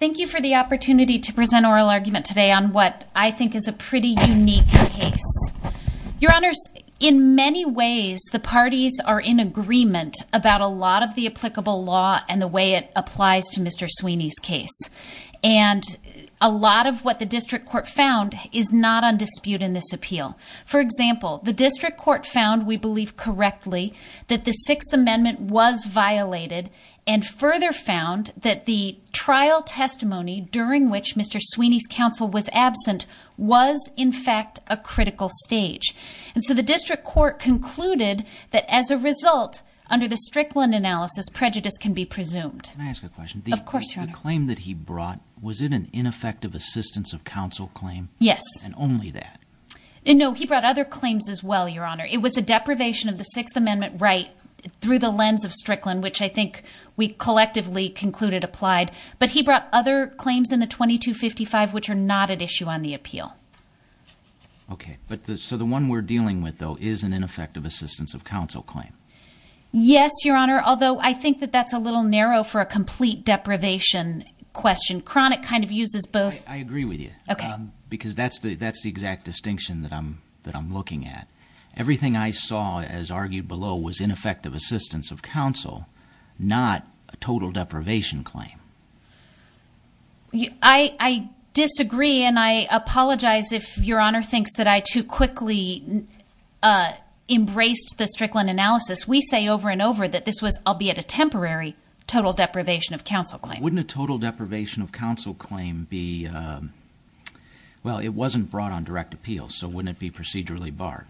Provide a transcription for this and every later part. Thank you for the opportunity to present oral argument today on what I think is a pretty unique case. Your Honors, in many ways the parties are in agreement about a lot of the applicable law and the way it applies to Mr. Sweeney's case. And a lot of what the District Court found is not on dispute in this appeal. For example, the District Court found, we believe correctly, that the Sixth Amendment was violated and further found that the trial testimony during which Mr. Sweeney's counsel was absent was, in fact, a critical stage. And so the District Court concluded that as a result, under the Strickland analysis, prejudice can be presumed. Can I ask a question? Of course, Your Honor. The claim that he brought, was it an ineffective assistance of counsel claim? Yes. And only that? No, he brought other claims as well, Your Honor. It was a deprivation of the Sixth Amendment right through the lens of Strickland, which I think we collectively concluded applied. But he brought other claims in the 2255 which are not at issue on the appeal. Okay. So the one we're dealing with, though, is an ineffective assistance of counsel claim? Yes, Your Honor, although I think that that's a little narrow for a complete deprivation question. Cronick kind of uses both. I agree with you. Because that's the exact distinction that I'm looking at. Everything I saw, as argued below, was ineffective assistance of counsel, not a total deprivation claim. I disagree, and I apologize if Your Honor thinks that I too quickly embraced the Strickland analysis. We say over and over that this was, albeit a temporary, total deprivation of counsel claim. Wouldn't a total deprivation of counsel claim be, well, it wasn't brought on direct appeal, so wouldn't it be procedurally barred?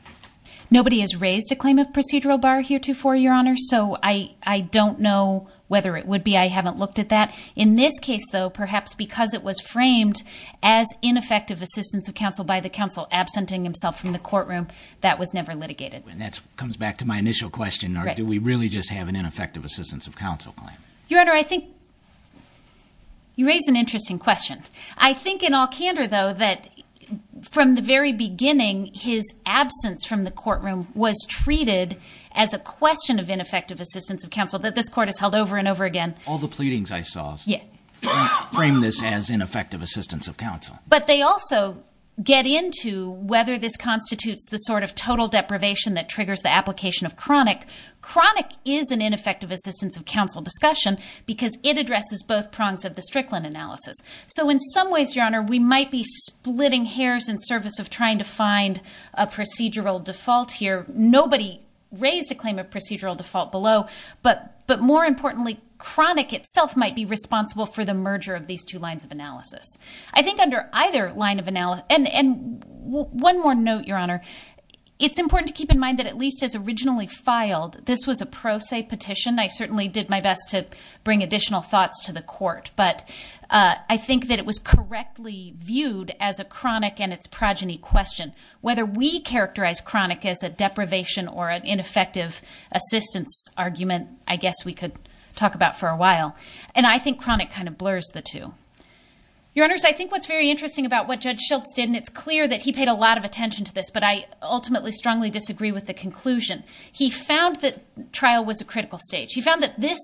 Nobody has raised a claim of procedural bar heretofore, Your Honor, so I don't know whether it would be. I haven't looked at that. In this case, though, perhaps because it was framed as ineffective assistance of counsel by the counsel absenting himself from the courtroom, that was never litigated. And that comes back to my initial question, or do we really just have an ineffective assistance of counsel claim? Your Honor, I think you raise an interesting question. I think in all candor, though, that from the very beginning, his absence from the courtroom was treated as a question of ineffective assistance of counsel that this Court has held over and over again. All the pleadings I saw frame this as ineffective assistance of counsel. But they also get into whether this constitutes the sort of total deprivation that triggers the application of chronic. Chronic is an ineffective assistance of counsel discussion because it addresses both prongs of the Strickland analysis. So in some ways, Your Honor, we might be splitting hairs in service of trying to find a procedural default here. Nobody raised a claim of procedural default below, but more importantly, chronic itself might be responsible for the merger of these two lines of analysis. I think under either line of analysis, and one more note, Your Honor, it's important to keep in mind that at least as originally filed, this was a pro se petition. I certainly did my best to bring additional thoughts to the Court. But I think that it was correctly viewed as a chronic and its progeny question. Whether we characterize chronic as a deprivation or an ineffective assistance argument, I guess we could talk about for a while. And I think chronic kind of blurs the two. Your Honors, I think what's very interesting about what Judge Schultz did, and it's clear that he paid a lot of attention to this, but I ultimately strongly disagree with the conclusion. He found that trial was a critical stage. He found that this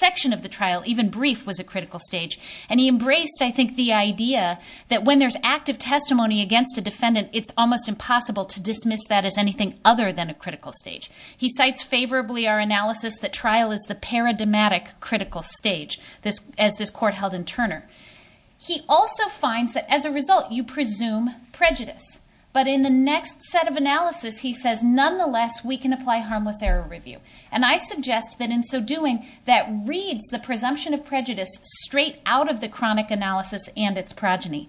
section of the trial, even brief, was a critical stage. And he embraced, I think, the idea that when there's active testimony against a defendant, it's almost impossible to dismiss that as anything other than a critical stage. He cites favorably our analysis that trial is the paradigmatic critical stage, as this court held in Turner. He also finds that as a result, you presume prejudice. But in the next set of analysis, he says, nonetheless, we can apply harmless error review. And I suggest that in so doing, that reads the presumption of prejudice straight out of the chronic analysis and its progeny.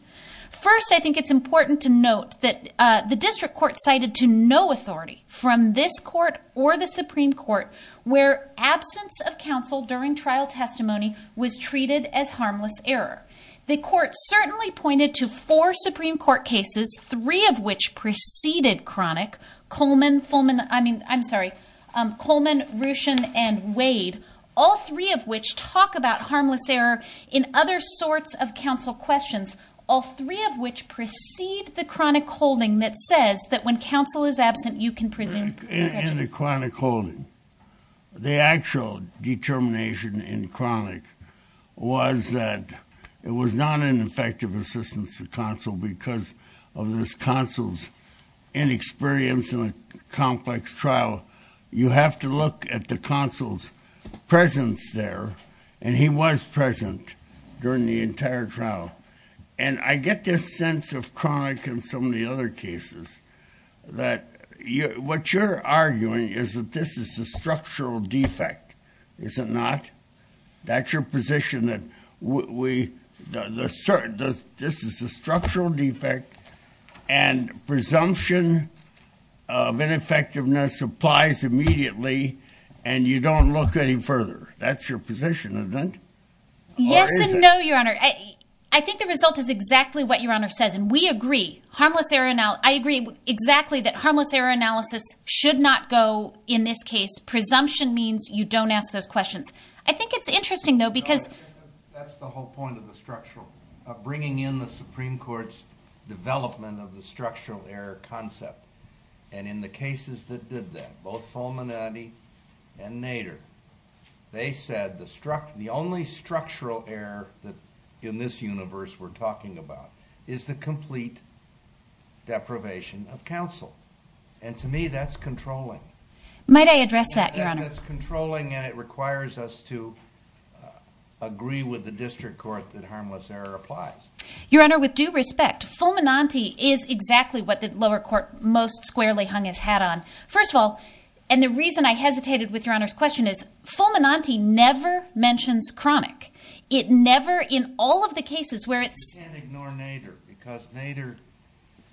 First, I think it's important to note that the district court cited to no authority from this court or the Supreme Court where absence of counsel during trial testimony was treated as harmless error. The court certainly pointed to four Supreme Court cases, three of which preceded chronic, Coleman, Fulman, I mean, I'm sorry, Coleman, Ruchin, and Wade, all three of which talk about harmless error in other sorts of counsel questions, all three of which precede the chronic holding that says that when counsel is absent, you can presume prejudice. In the chronic holding, the actual determination in chronic was that it was not an effective assistance to counsel because of this counsel's inexperience in a complex trial. You have to look at the counsel's presence there. And he was present during the entire trial. And I get this sense of chronic in some of the other cases that what you're arguing is that this is a structural defect, is it not? That's your position that this is a structural defect, and presumption of ineffectiveness applies immediately, and you don't look any further. That's your position, isn't it? Or is it? Yes and no, Your Honor. I think the result is exactly what Your Honor says, and we agree. I agree exactly that harmless error analysis should not go in this case. It's presumption means you don't ask those questions. I think it's interesting, though, because- That's the whole point of the structural, of bringing in the Supreme Court's development of the structural error concept. And in the cases that did that, both Fulminati and Nader, they said the only structural error that in this universe we're talking about is the complete deprivation of counsel. And to me, that's controlling. Might I address that, Your Honor? That's controlling, and it requires us to agree with the district court that harmless error applies. Your Honor, with due respect, Fulminati is exactly what the lower court most squarely hung its hat on. First of all, and the reason I hesitated with Your Honor's question is, Fulminati never mentions chronic. It never, in all of the cases where it's- You can't ignore Nader, because Nader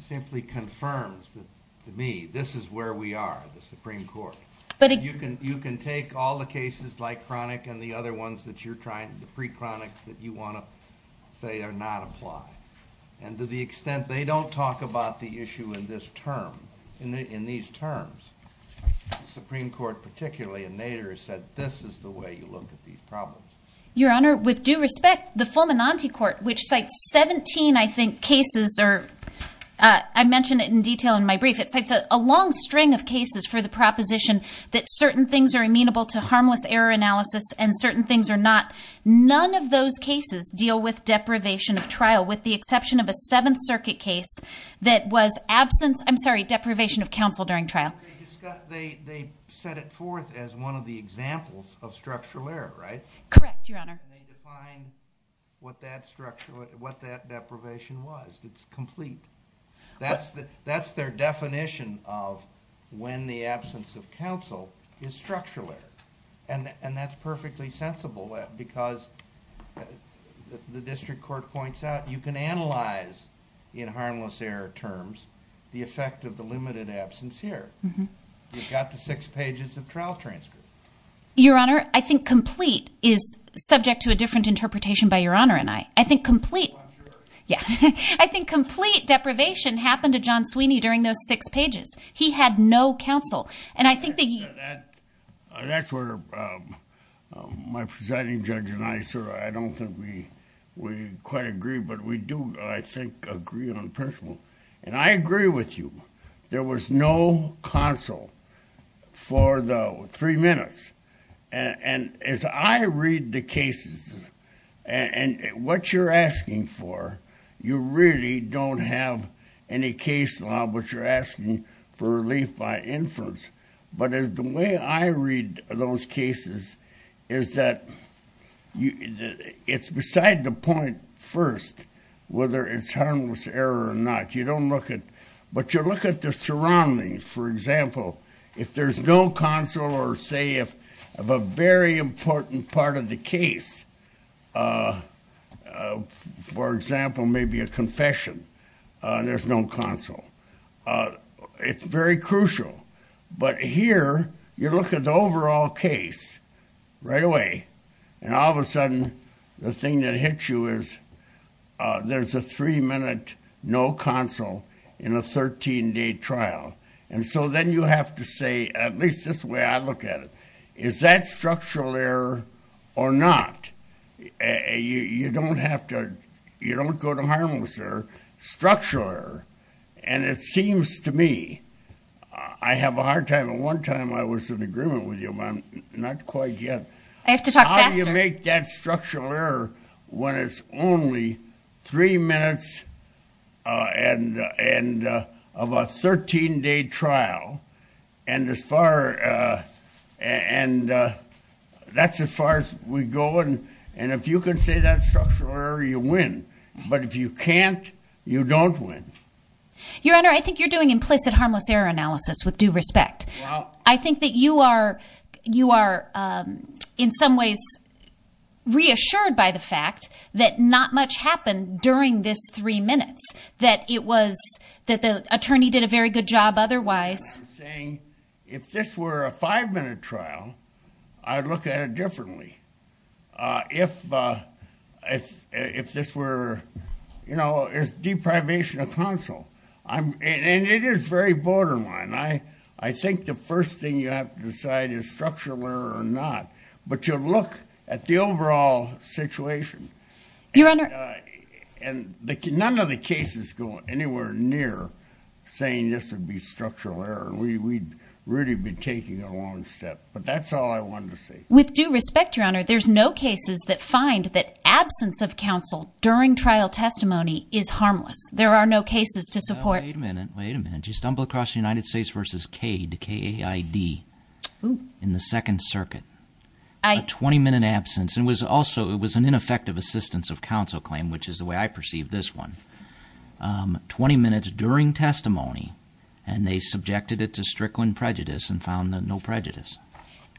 simply confirms that, to me, this is where we are, the Supreme Court. But- You can take all the cases like chronic and the other ones that you're trying, the pre-chronic that you want to say are not applied. And to the extent they don't talk about the issue in this term, in these terms, the Supreme Court particularly and Nader said, this is the way you look at these problems. Your Honor, with due respect, the Fulminati court, which cites 17, I think, cases or- I mentioned it in detail in my brief. It cites a long string of cases for the proposition that certain things are amenable to harmless error analysis and certain things are not. None of those cases deal with deprivation of trial, with the exception of a Seventh Circuit case that was absence- I'm sorry, deprivation of counsel during trial. They set it forth as one of the examples of structural error, right? Correct, Your Honor. And they defined what that deprivation was. It's complete. That's their definition of when the absence of counsel is structural error. And that's perfectly sensible because the district court points out you can analyze in harmless error terms the effect of the limited absence here. You've got the six pages of trial transcript. Your Honor, I think complete is subject to a different interpretation by Your Honor and I. I think complete- I'm sure. Yeah. I think complete deprivation happened to John Sweeney during those six pages. He had no counsel. And I think that he- That's where my presiding judge and I sort of, I don't think we quite agree, but we do, I think, agree on principle. And I agree with you. There was no counsel for the three minutes. And as I read the cases, and what you're asking for, you really don't have any case law, but you're asking for relief by inference. But the way I read those cases is that it's beside the point first whether it's harmless error or not. You don't look at- But you look at the surroundings. For example, if there's no counsel or say of a very important part of the case, for example, maybe a confession, there's no counsel. It's very crucial. But here, you look at the overall case right away, and all of a sudden the thing that hits you is there's a three-minute no counsel in a 13-day trial. And so then you have to say, at least this way I look at it, is that structural error or not? You don't have to, you don't go to harmless error. Structural error. And it seems to me, I have a hard time, and one time I was in agreement with you, but not quite yet. I have to talk faster. You can't make that structural error when it's only three minutes and of a 13-day trial. And that's as far as we go. And if you can say that structural error, you win. But if you can't, you don't win. Your Honor, I think you're doing implicit harmless error analysis with due respect. I think that you are, in some ways, reassured by the fact that not much happened during this three minutes. That it was, that the attorney did a very good job otherwise. And I'm saying, if this were a five-minute trial, I'd look at it differently. If this were, you know, it's deprivation of counsel. And it is very borderline. I think the first thing you have to decide is structural error or not. But you look at the overall situation. Your Honor. And none of the cases go anywhere near saying this would be structural error. We'd really be taking a long step. But that's all I wanted to say. With due respect, Your Honor, there's no cases that find that absence of counsel during trial testimony is harmless. There are no cases to support. Wait a minute. Wait a minute. You stumble across the United States v. Cade, K-A-I-D, in the Second Circuit, a 20-minute absence. And it was also, it was an ineffective assistance of counsel claim, which is the way I perceive this one, 20 minutes during testimony, and they subjected it to Strickland prejudice and found no prejudice.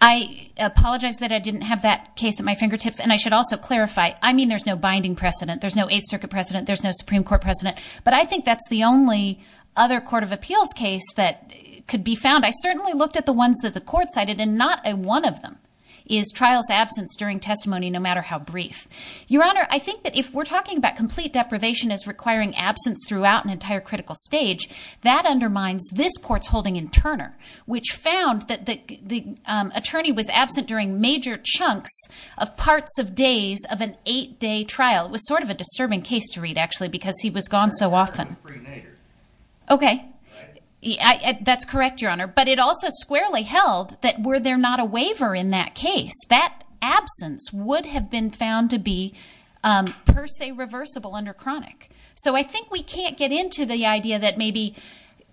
I apologize that I didn't have that case at my fingertips. And I should also clarify, I mean, there's no binding precedent. There's no Eighth Circuit precedent. There's no Supreme Court precedent. But I think that's the only other court of appeals case that could be found. I certainly looked at the ones that the court cited, and not one of them is trials absence during testimony, no matter how brief. Your Honor, I think that if we're talking about complete deprivation as requiring absence throughout an entire critical stage, that undermines this court's holding in Turner, which found that the attorney was absent during major chunks of parts of days of an eight-day trial. It was sort of a disturbing case to read, actually, because he was gone so often. I think Turner was pre-natured. Okay. Right? That's correct, Your Honor. But it also squarely held that were there not a waiver in that case, that absence would have been found to be per se reversible under chronic. So I think we can't get into the idea that maybe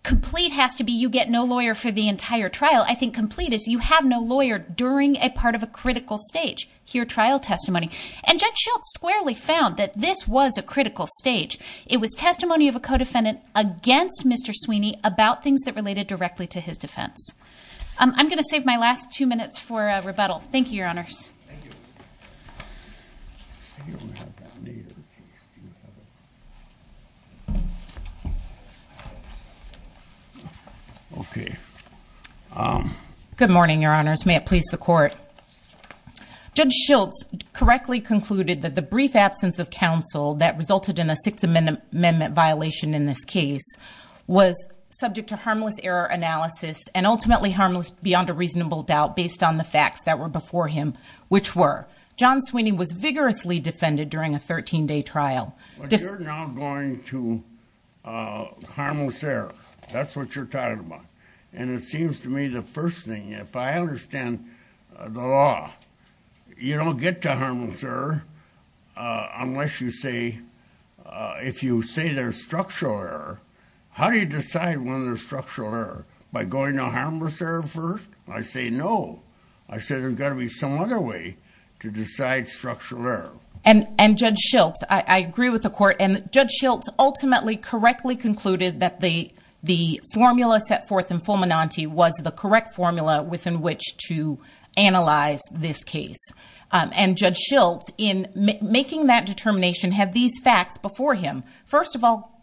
complete has to be you get no lawyer for the entire trial. I think complete is you have no lawyer during a part of a critical stage, your trial testimony. And Judge Schiltz squarely found that this was a critical stage. It was testimony of a co-defendant against Mr. Sweeney about things that related directly to his defense. I'm going to save my last two minutes for rebuttal. Thank you, Your Honors. Thank you. Okay. Good morning, Your Honors. May it please the Court. Judge Schiltz correctly concluded that the brief absence of counsel that resulted in a Sixth Amendment violation in this case was subject to harmless error analysis and ultimately harmless beyond a reasonable doubt based on the facts that were before him, which were John Sweeney was vigorously defended during a 13-day trial. But you're now going to harmless error. That's what you're talking about. And it seems to me the first thing, if I understand the law, you don't get to harmless error unless you say, if you say there's structural error, how do you decide when there's structural error? By going to harmless error first? I say no. I say there's got to be some other way to decide structural error. And Judge Schiltz, I agree with the Court, and Judge Schiltz ultimately correctly concluded that the formula set forth in Fulminante was the correct formula within which to analyze this case. And Judge Schiltz, in making that determination, had these facts before him. First of all,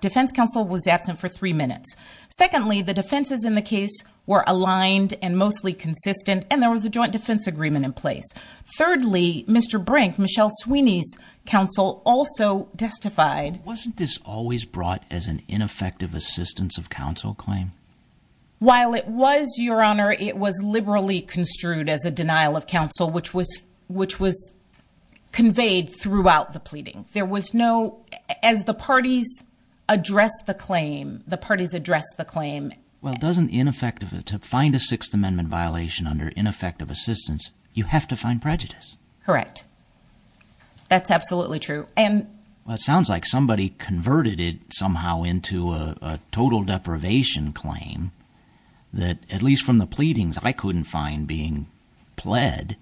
defense counsel was absent for three minutes. Secondly, the defenses in the case were aligned and mostly consistent, and there was a joint defense agreement in place. Thirdly, Mr. Brink, Michelle Sweeney's counsel, also testified. Wasn't this always brought as an ineffective assistance of counsel claim? While it was, Your Honor, it was liberally construed as a denial of counsel, which was conveyed throughout the pleading. There was no, as the parties addressed the claim, the parties addressed the claim. Well, doesn't ineffective, to find a Sixth Amendment violation under ineffective assistance, you have to find prejudice. Correct. That's absolutely true. Well, it sounds like somebody converted it somehow into a total deprivation claim that, at least from the pleadings, I couldn't find being pled.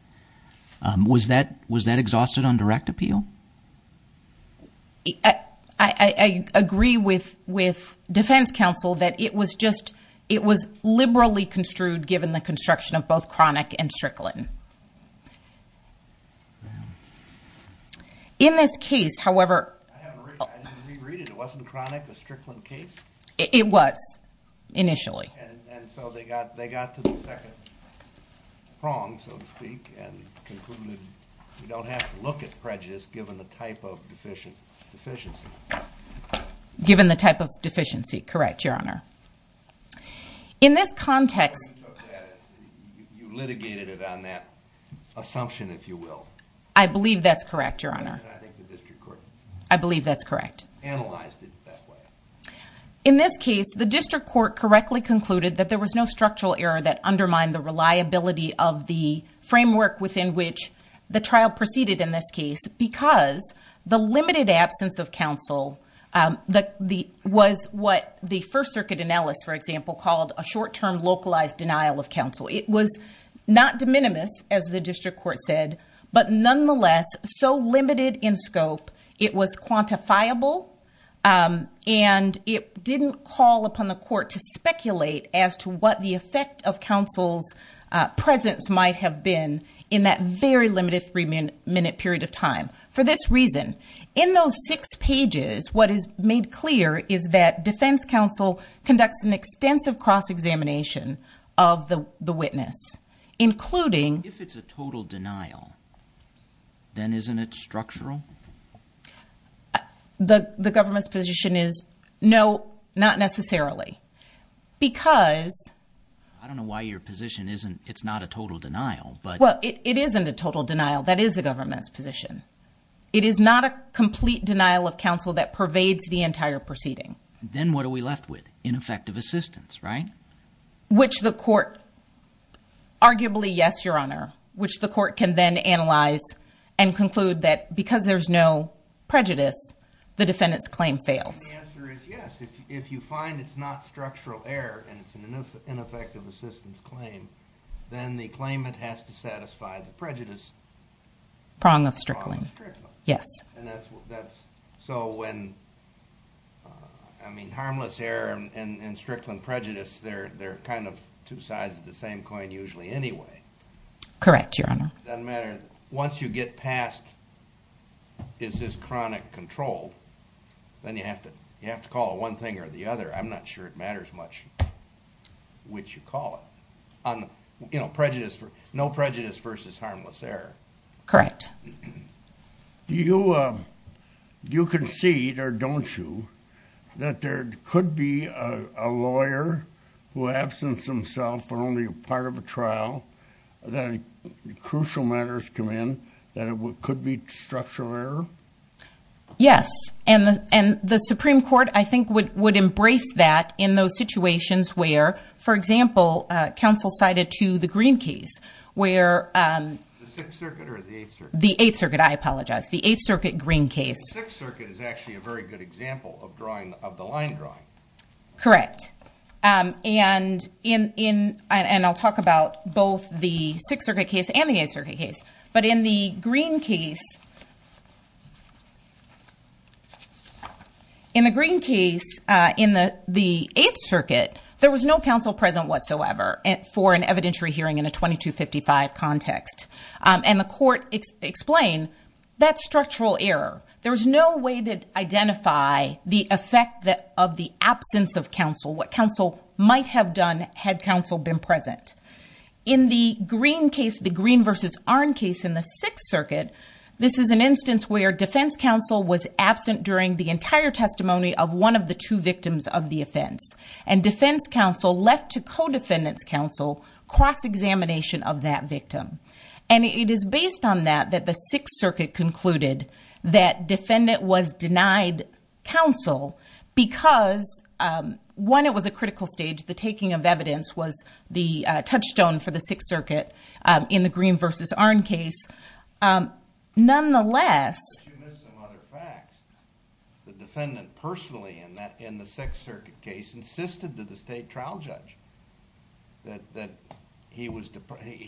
Was that exhausted on direct appeal? I agree with defense counsel that it was just, it was liberally construed given the construction of both Cronic and Strickland. In this case, however, I didn't re-read it, it wasn't Cronic but Strickland case? It was, initially. And so they got to the second prong, so to speak, and concluded you don't have to look at prejudice given the type of deficiency. Given the type of deficiency, correct, Your Honor. In this context... You litigated it on that assumption, if you will. I believe that's correct, Your Honor. And I think the district court... I believe that's correct. ...analyzed it that way. In this case, the district court correctly concluded that there was no structural error that undermined the reliability of the framework within which the trial proceeded in this case because the limited absence of counsel was what the First Circuit in Ellis, for example, called a short-term localized denial of counsel. It was not de minimis, as the district court said, but nonetheless so limited in scope, it was quantifiable and it didn't call upon the court to speculate as to what the effect of counsel's presence might have been in that very limited three-minute period of time. For this reason, in those six pages, what is made clear is that defense counsel conducts an extensive cross-examination of the witness, including... If it's a total denial, then isn't it structural? The government's position is, no, not necessarily, because... I don't know why your position isn't, it's not a total denial, but... Well, it isn't a total denial, that is the government's position. It is not a complete denial of counsel that pervades the entire proceeding. Then what are we left with? Ineffective assistance, right? Which the court, arguably, yes, Your Honor, which the court can then analyze and conclude that because there's no prejudice, the defendant's claim fails. And the answer is yes. If you find it's not structural error and it's an ineffective assistance claim, then the claimant has to satisfy the prejudice... Prong of Strickland. Prong of Strickland. Yes. And that's... So when... I mean, harmless error and Strickland prejudice, they're kind of two sides of the same coin usually anyway. Correct, Your Honor. It doesn't matter. Once you get past, is this chronic control, then you have to call it one thing or the other. I'm not sure it matters much which you call it. You know, no prejudice versus harmless error. Correct. Do you concede, or don't you, that there could be a lawyer who absents himself for only a year of a trial, that crucial matters come in, that it could be structural error? Yes. And the Supreme Court, I think, would embrace that in those situations where, for example, counsel cited to the Green case, where... The Sixth Circuit or the Eighth Circuit? The Eighth Circuit. I apologize. The Eighth Circuit Green case. The Sixth Circuit is actually a very good example of the line drawing. Correct. And I'll talk about both the Sixth Circuit case and the Eighth Circuit case. But in the Green case, in the Eighth Circuit, there was no counsel present whatsoever for an evidentiary hearing in a 2255 context. And the court explained, that's structural error. There was no way to identify the effect of the absence of counsel, what counsel might have done had counsel been present. In the Green case, the Green versus Arnn case in the Sixth Circuit, this is an instance where defense counsel was absent during the entire testimony of one of the two victims of the offense. And defense counsel left to co-defendant's counsel cross-examination of that victim. And it is based on that, that the Sixth Circuit concluded that defendant was denied counsel because, one, it was a critical stage. The taking of evidence was the touchstone for the Sixth Circuit in the Green versus Arnn case. Nonetheless... But you missed some other facts. The defendant personally in the Sixth Circuit case insisted to the state trial judge that he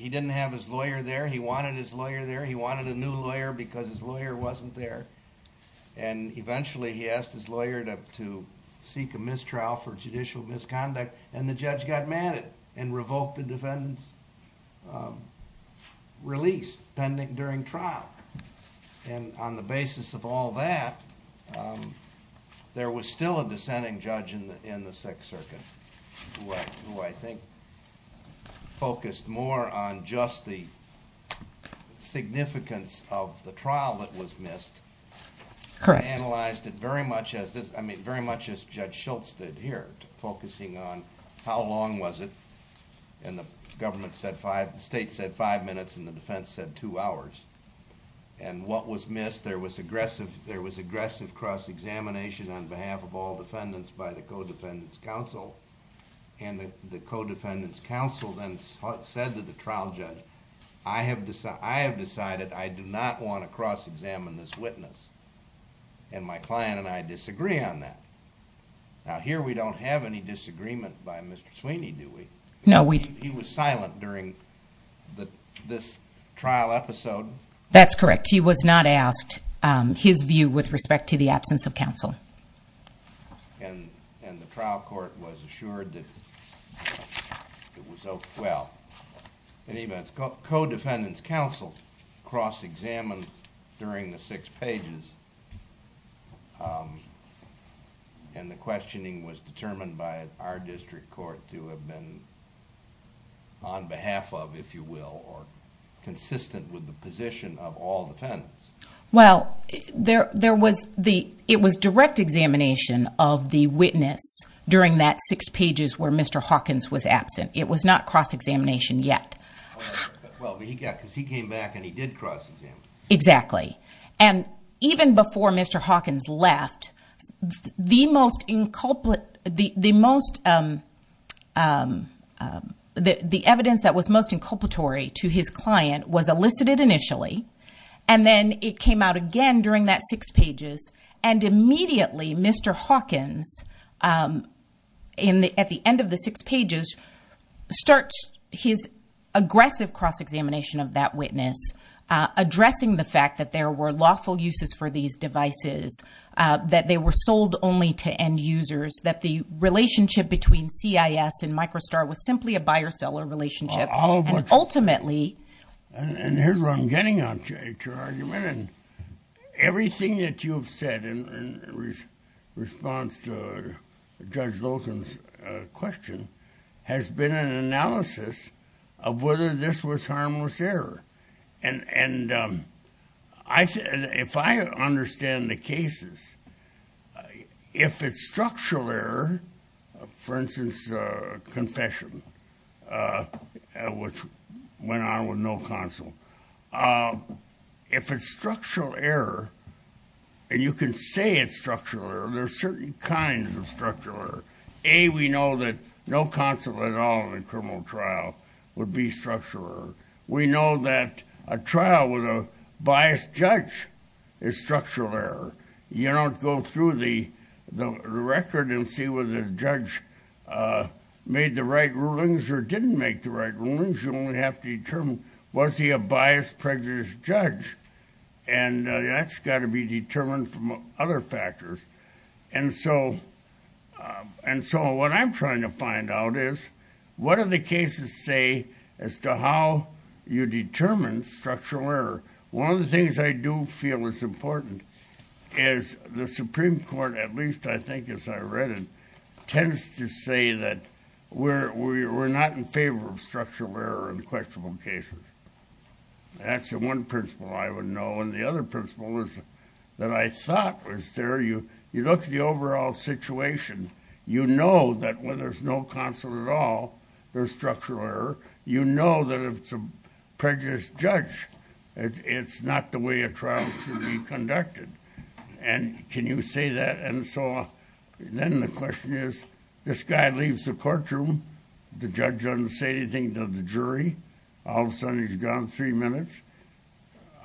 didn't have his lawyer there. He wanted his lawyer there. He wanted a new lawyer because his lawyer wasn't there. And eventually he asked his lawyer to seek a mistrial for judicial misconduct. And the judge got mad and revoked the defendant's release pending during trial. And on the basis of all that, there was still a dissenting judge in the Sixth Circuit, who I think focused more on just the significance of the trial that was missed. Correct. Analyzed it very much as Judge Schultz did here, focusing on how long was it. And the state said five minutes and the defense said two hours. And what was missed, there was aggressive cross-examination on behalf of all the defendants' counsel. And the co-defendants' counsel then said to the trial judge, I have decided I do not want to cross-examine this witness. And my client and I disagree on that. Now here we don't have any disagreement by Mr. Sweeney, do we? No, we... He was silent during this trial episode. That's correct. He was not asked his view with respect to the absence of counsel. And the trial court was assured that it was... Well, in any event, co-defendants' counsel cross-examined during the six pages. And the questioning was determined by our district court to have been on behalf of, if you will, or consistent with the position of all defendants. Well, there was the... It was direct examination of the witness during that six pages where Mr. Hawkins was absent. It was not cross-examination yet. Well, because he came back and he did cross-examine. Exactly. And even before Mr. Hawkins left, the most... The most... The evidence that was most inculpatory to his client was elicited initially. And then it came out again during that six pages. And immediately, Mr. Hawkins, at the end of the six pages, starts his aggressive cross-examination of that witness, addressing the fact that there were lawful uses for these devices, that they were sold only to end-users, that the relationship between CIS and Microstar was simply a buyer-seller relationship. Ultimately... And here's where I'm getting at your argument. Everything that you've said in response to Judge Loken's question has been an analysis of whether this was harmless error. And if I understand the cases, if it's structural error, for instance, confession, which went on with no counsel, if it's structural error, and you can say it's structural error, there are certain kinds of structural error. A, we know that no counsel at all in a criminal trial would be structural error. We know that a trial with a biased judge is structural error. You don't go through the record and see whether the judge made the right rulings or didn't make the right rulings. You only have to determine, was he a biased, prejudiced judge? And that's got to be determined from other factors. And so, what I'm trying to find out is, what do the cases say as to how you determine structural error? One of the things I do feel is important is the Supreme Court, at least I think as I read it, tends to say that we're not in favor of structural error in questionable cases. That's the one principle I would know. And the other principle is that I thought was there. You look at the overall situation. You know that when there's no counsel at all, there's structural error. You know that if it's a prejudiced judge, it's not the way a trial should be conducted. And can you say that? And so, then the question is, this guy leaves the courtroom. The judge doesn't say anything to the jury. All of a sudden, he's gone three minutes.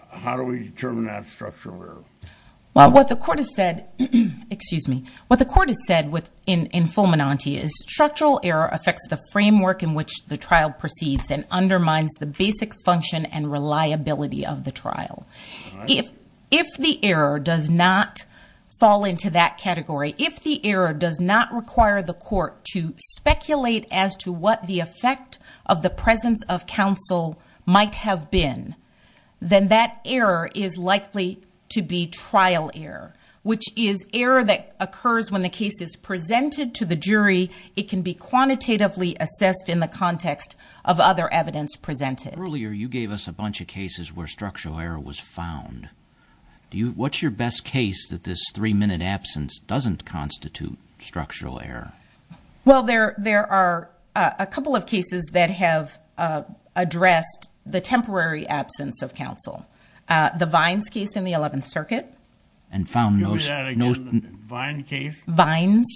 How do we determine that structural error? What the court has said in Fulminante is, structural error affects the framework in which the trial proceeds and undermines the basic function and reliability of the trial. If the error does not fall into that category, if the error does not require the court to speculate as to what the effect of the presence of counsel might have been, then that error is likely to be trial error, which is error that occurs when the case is presented to the jury. It can be quantitatively assessed in the context of other evidence presented. Earlier, you gave us a bunch of cases where structural error was found. What's your best case that this three-minute absence doesn't constitute structural error? Well, there are a couple of cases that have addressed the temporary absence of counsel. The Vines case in the 11th Circuit. Do that again. The Vines case? Vines.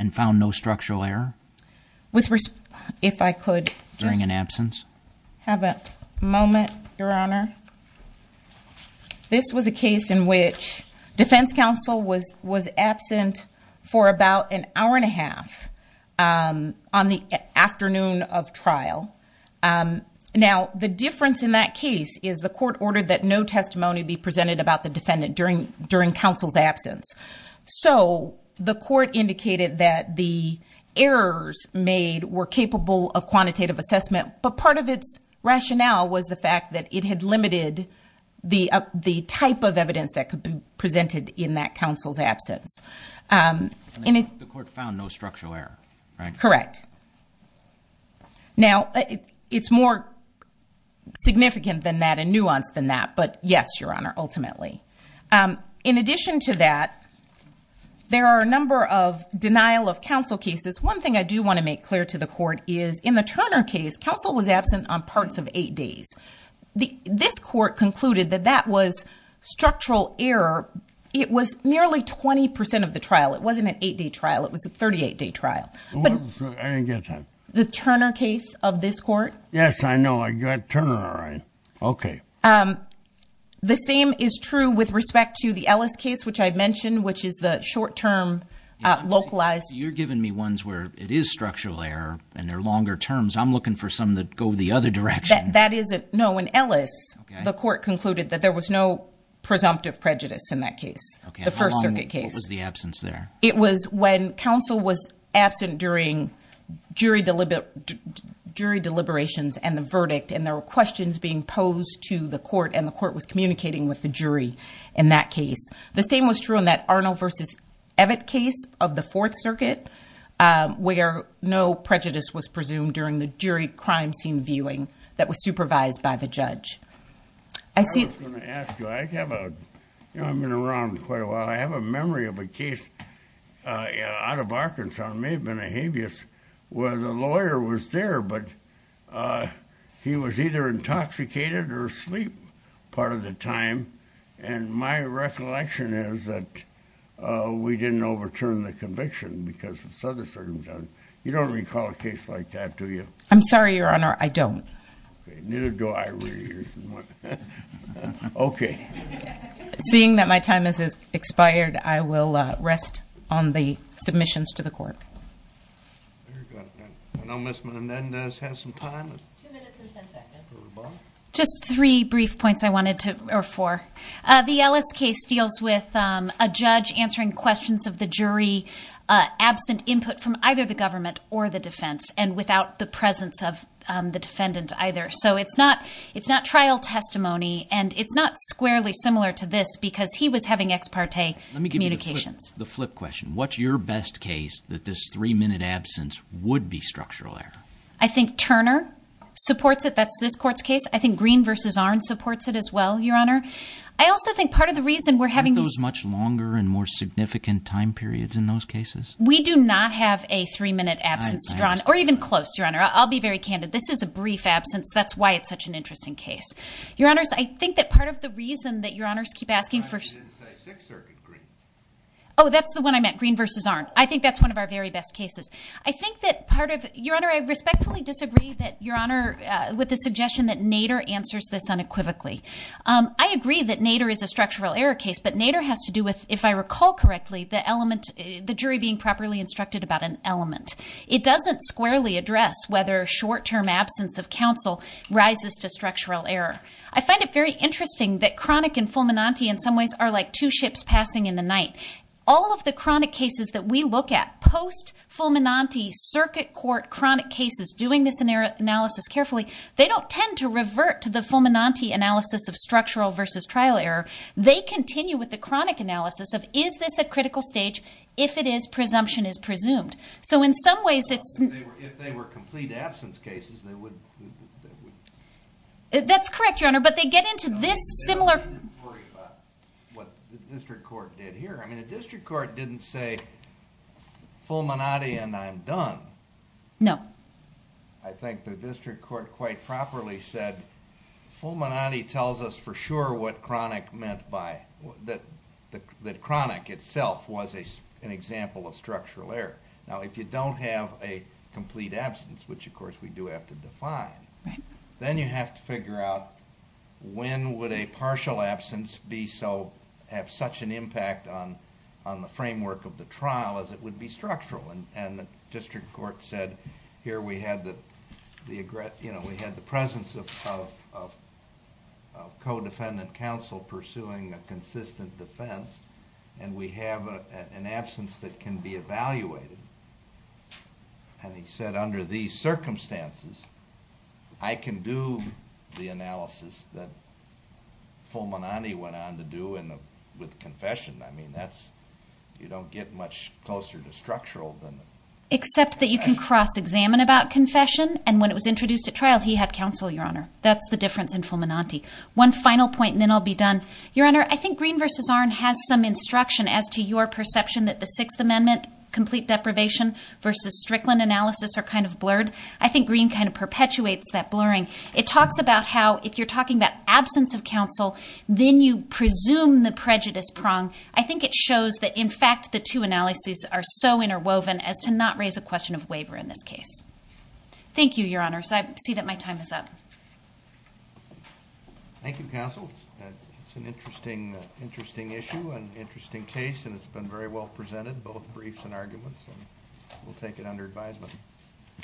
And found no structural error? If I could. During an absence? Have a moment, Your Honor. This was a case in which defense counsel was absent for about an hour and a half on the afternoon of trial. Now, the difference in that case is the court ordered that no testimony be presented about the defendant during counsel's absence. So, the court indicated that the errors made were capable of quantitative assessment, but part of its rationale was the fact that it had limited the type of evidence that could be presented in that counsel's absence. The court found no structural error, right? Correct. Now, it's more significant than that and nuanced than that, but yes, Your Honor, ultimately. In addition to that, there are a number of denial of counsel cases. One thing I do want to make clear to the court is, in the Turner case, counsel was absent on parts of eight days. This court concluded that that was structural error. It was nearly 20% of the trial. It wasn't an eight-day trial. It was a 38-day trial. I didn't get that. The Turner case of this court? Yes, I know. I got Turner, all right. Okay. The same is true with respect to the Ellis case, which I mentioned, which is the short-term localized... You're giving me ones where it is structural error and they're longer terms. I'm looking for some that go the other direction. No, in Ellis, the court concluded that there was no presumptive prejudice in that case, the First Circuit case. What was the absence there? It was when counsel was absent during jury deliberations and the verdict and there were questions being posed to the court and the court was communicating with the jury in that case. The same was true in that Arnold v. Evatt case of the Fourth Circuit, where no prejudice was presumed during the jury crime scene viewing that was supervised by the judge. I was going to ask you. I've been around quite a while. I have a memory of a case out of Arkansas. It may have been a habeas where the lawyer was there, but he was either intoxicated or asleep part of the time and my recollection is that we didn't overturn the conviction because of certain circumstances. You don't recall a case like that, do you? I'm sorry, Your Honor, I don't. Neither do I, really. Okay. Seeing that my time has expired, I will rest on the submissions to the court. Very good. I know Ms. Menendez has some time. Two minutes and ten seconds. Just three brief points I wanted to, or four. The Ellis case deals with a judge answering questions of the jury absent input from either the government or the defense and without the presence of the defendant either. So it's not trial testimony and it's not squarely similar to this because he was having ex parte communications. Let me give you the flip question. What's your best case that this three minute absence would be structural error? I think Turner supports it. That's this court's case. I think Green v. Arnn supports it as well, Your Honor. I also think part of the reason we're having... Aren't those much longer and more significant time periods in those cases? We do not have a three minute absence to draw on, or even close, Your Honor. I'll be very candid. This is a brief absence. That's why it's such an interesting case. Your Honors, I think that part of the reason that Your Honors keep asking for... Green v. Arnn. Oh, that's the one I meant. Green v. Arnn. I think that's one of our very best cases. I think that part of... Your Honor, I respectfully disagree with the suggestion that Nader answers this unequivocally. I agree that Nader is a structural error case, but Nader has to do with, if I recall correctly, the jury being properly instructed about an element. It doesn't squarely address whether a short term absence of counsel rises to structural error. I find it very interesting that chronic and fulminante in some ways are like two ships passing in the night. All of the chronic cases that we look at, post-fulminante, circuit court, chronic cases, doing this analysis carefully, they don't tend to revert to the fulminante analysis of structural versus trial error. They continue with the chronic analysis of, is this a critical stage? If it is, presumption is presumed. So in some ways, it's... If they were complete absence cases, they would... That's correct, Your Honor, but they get into this similar... I didn't worry about what the district court did here. The district court didn't say, fulminante and I'm done. No. I think the district court quite properly said, fulminante tells us for sure what chronic meant by... that chronic itself was an example of structural error. Now, if you don't have a complete absence, which of course we do have to define, then you have to figure out when would a partial absence have such an impact on the framework of the trial as it would be structural. The district court said, here we had the presence of co-defendant counsel pursuing a consistent defense, and we have an absence that can be evaluated. And he said, under these circumstances, I can do the analysis that fulminante went on to do with confession. You don't get much closer to structural than... Except that you can cross-examine about confession, and when it was introduced at trial, he had counsel, Your Honor. That's the difference in fulminante. One final point, and then I'll be done. Your Honor, I think Green v. Arnn has some instruction as to your perception that the Sixth Amendment, complete deprivation versus Strickland analysis are kind of blurred. I think Green kind of perpetuates that blurring. It talks about how if you're talking about absence of counsel, then you presume the prejudice prong. I think it shows that in fact the two analyses are so interwoven as to not raise a question of waiver in this case. Thank you, Your Honor. I see that my time is up. Thank you, counsel. It's an interesting issue, an interesting case, and it's been very well presented, both briefs and arguments. We'll take it under advisement.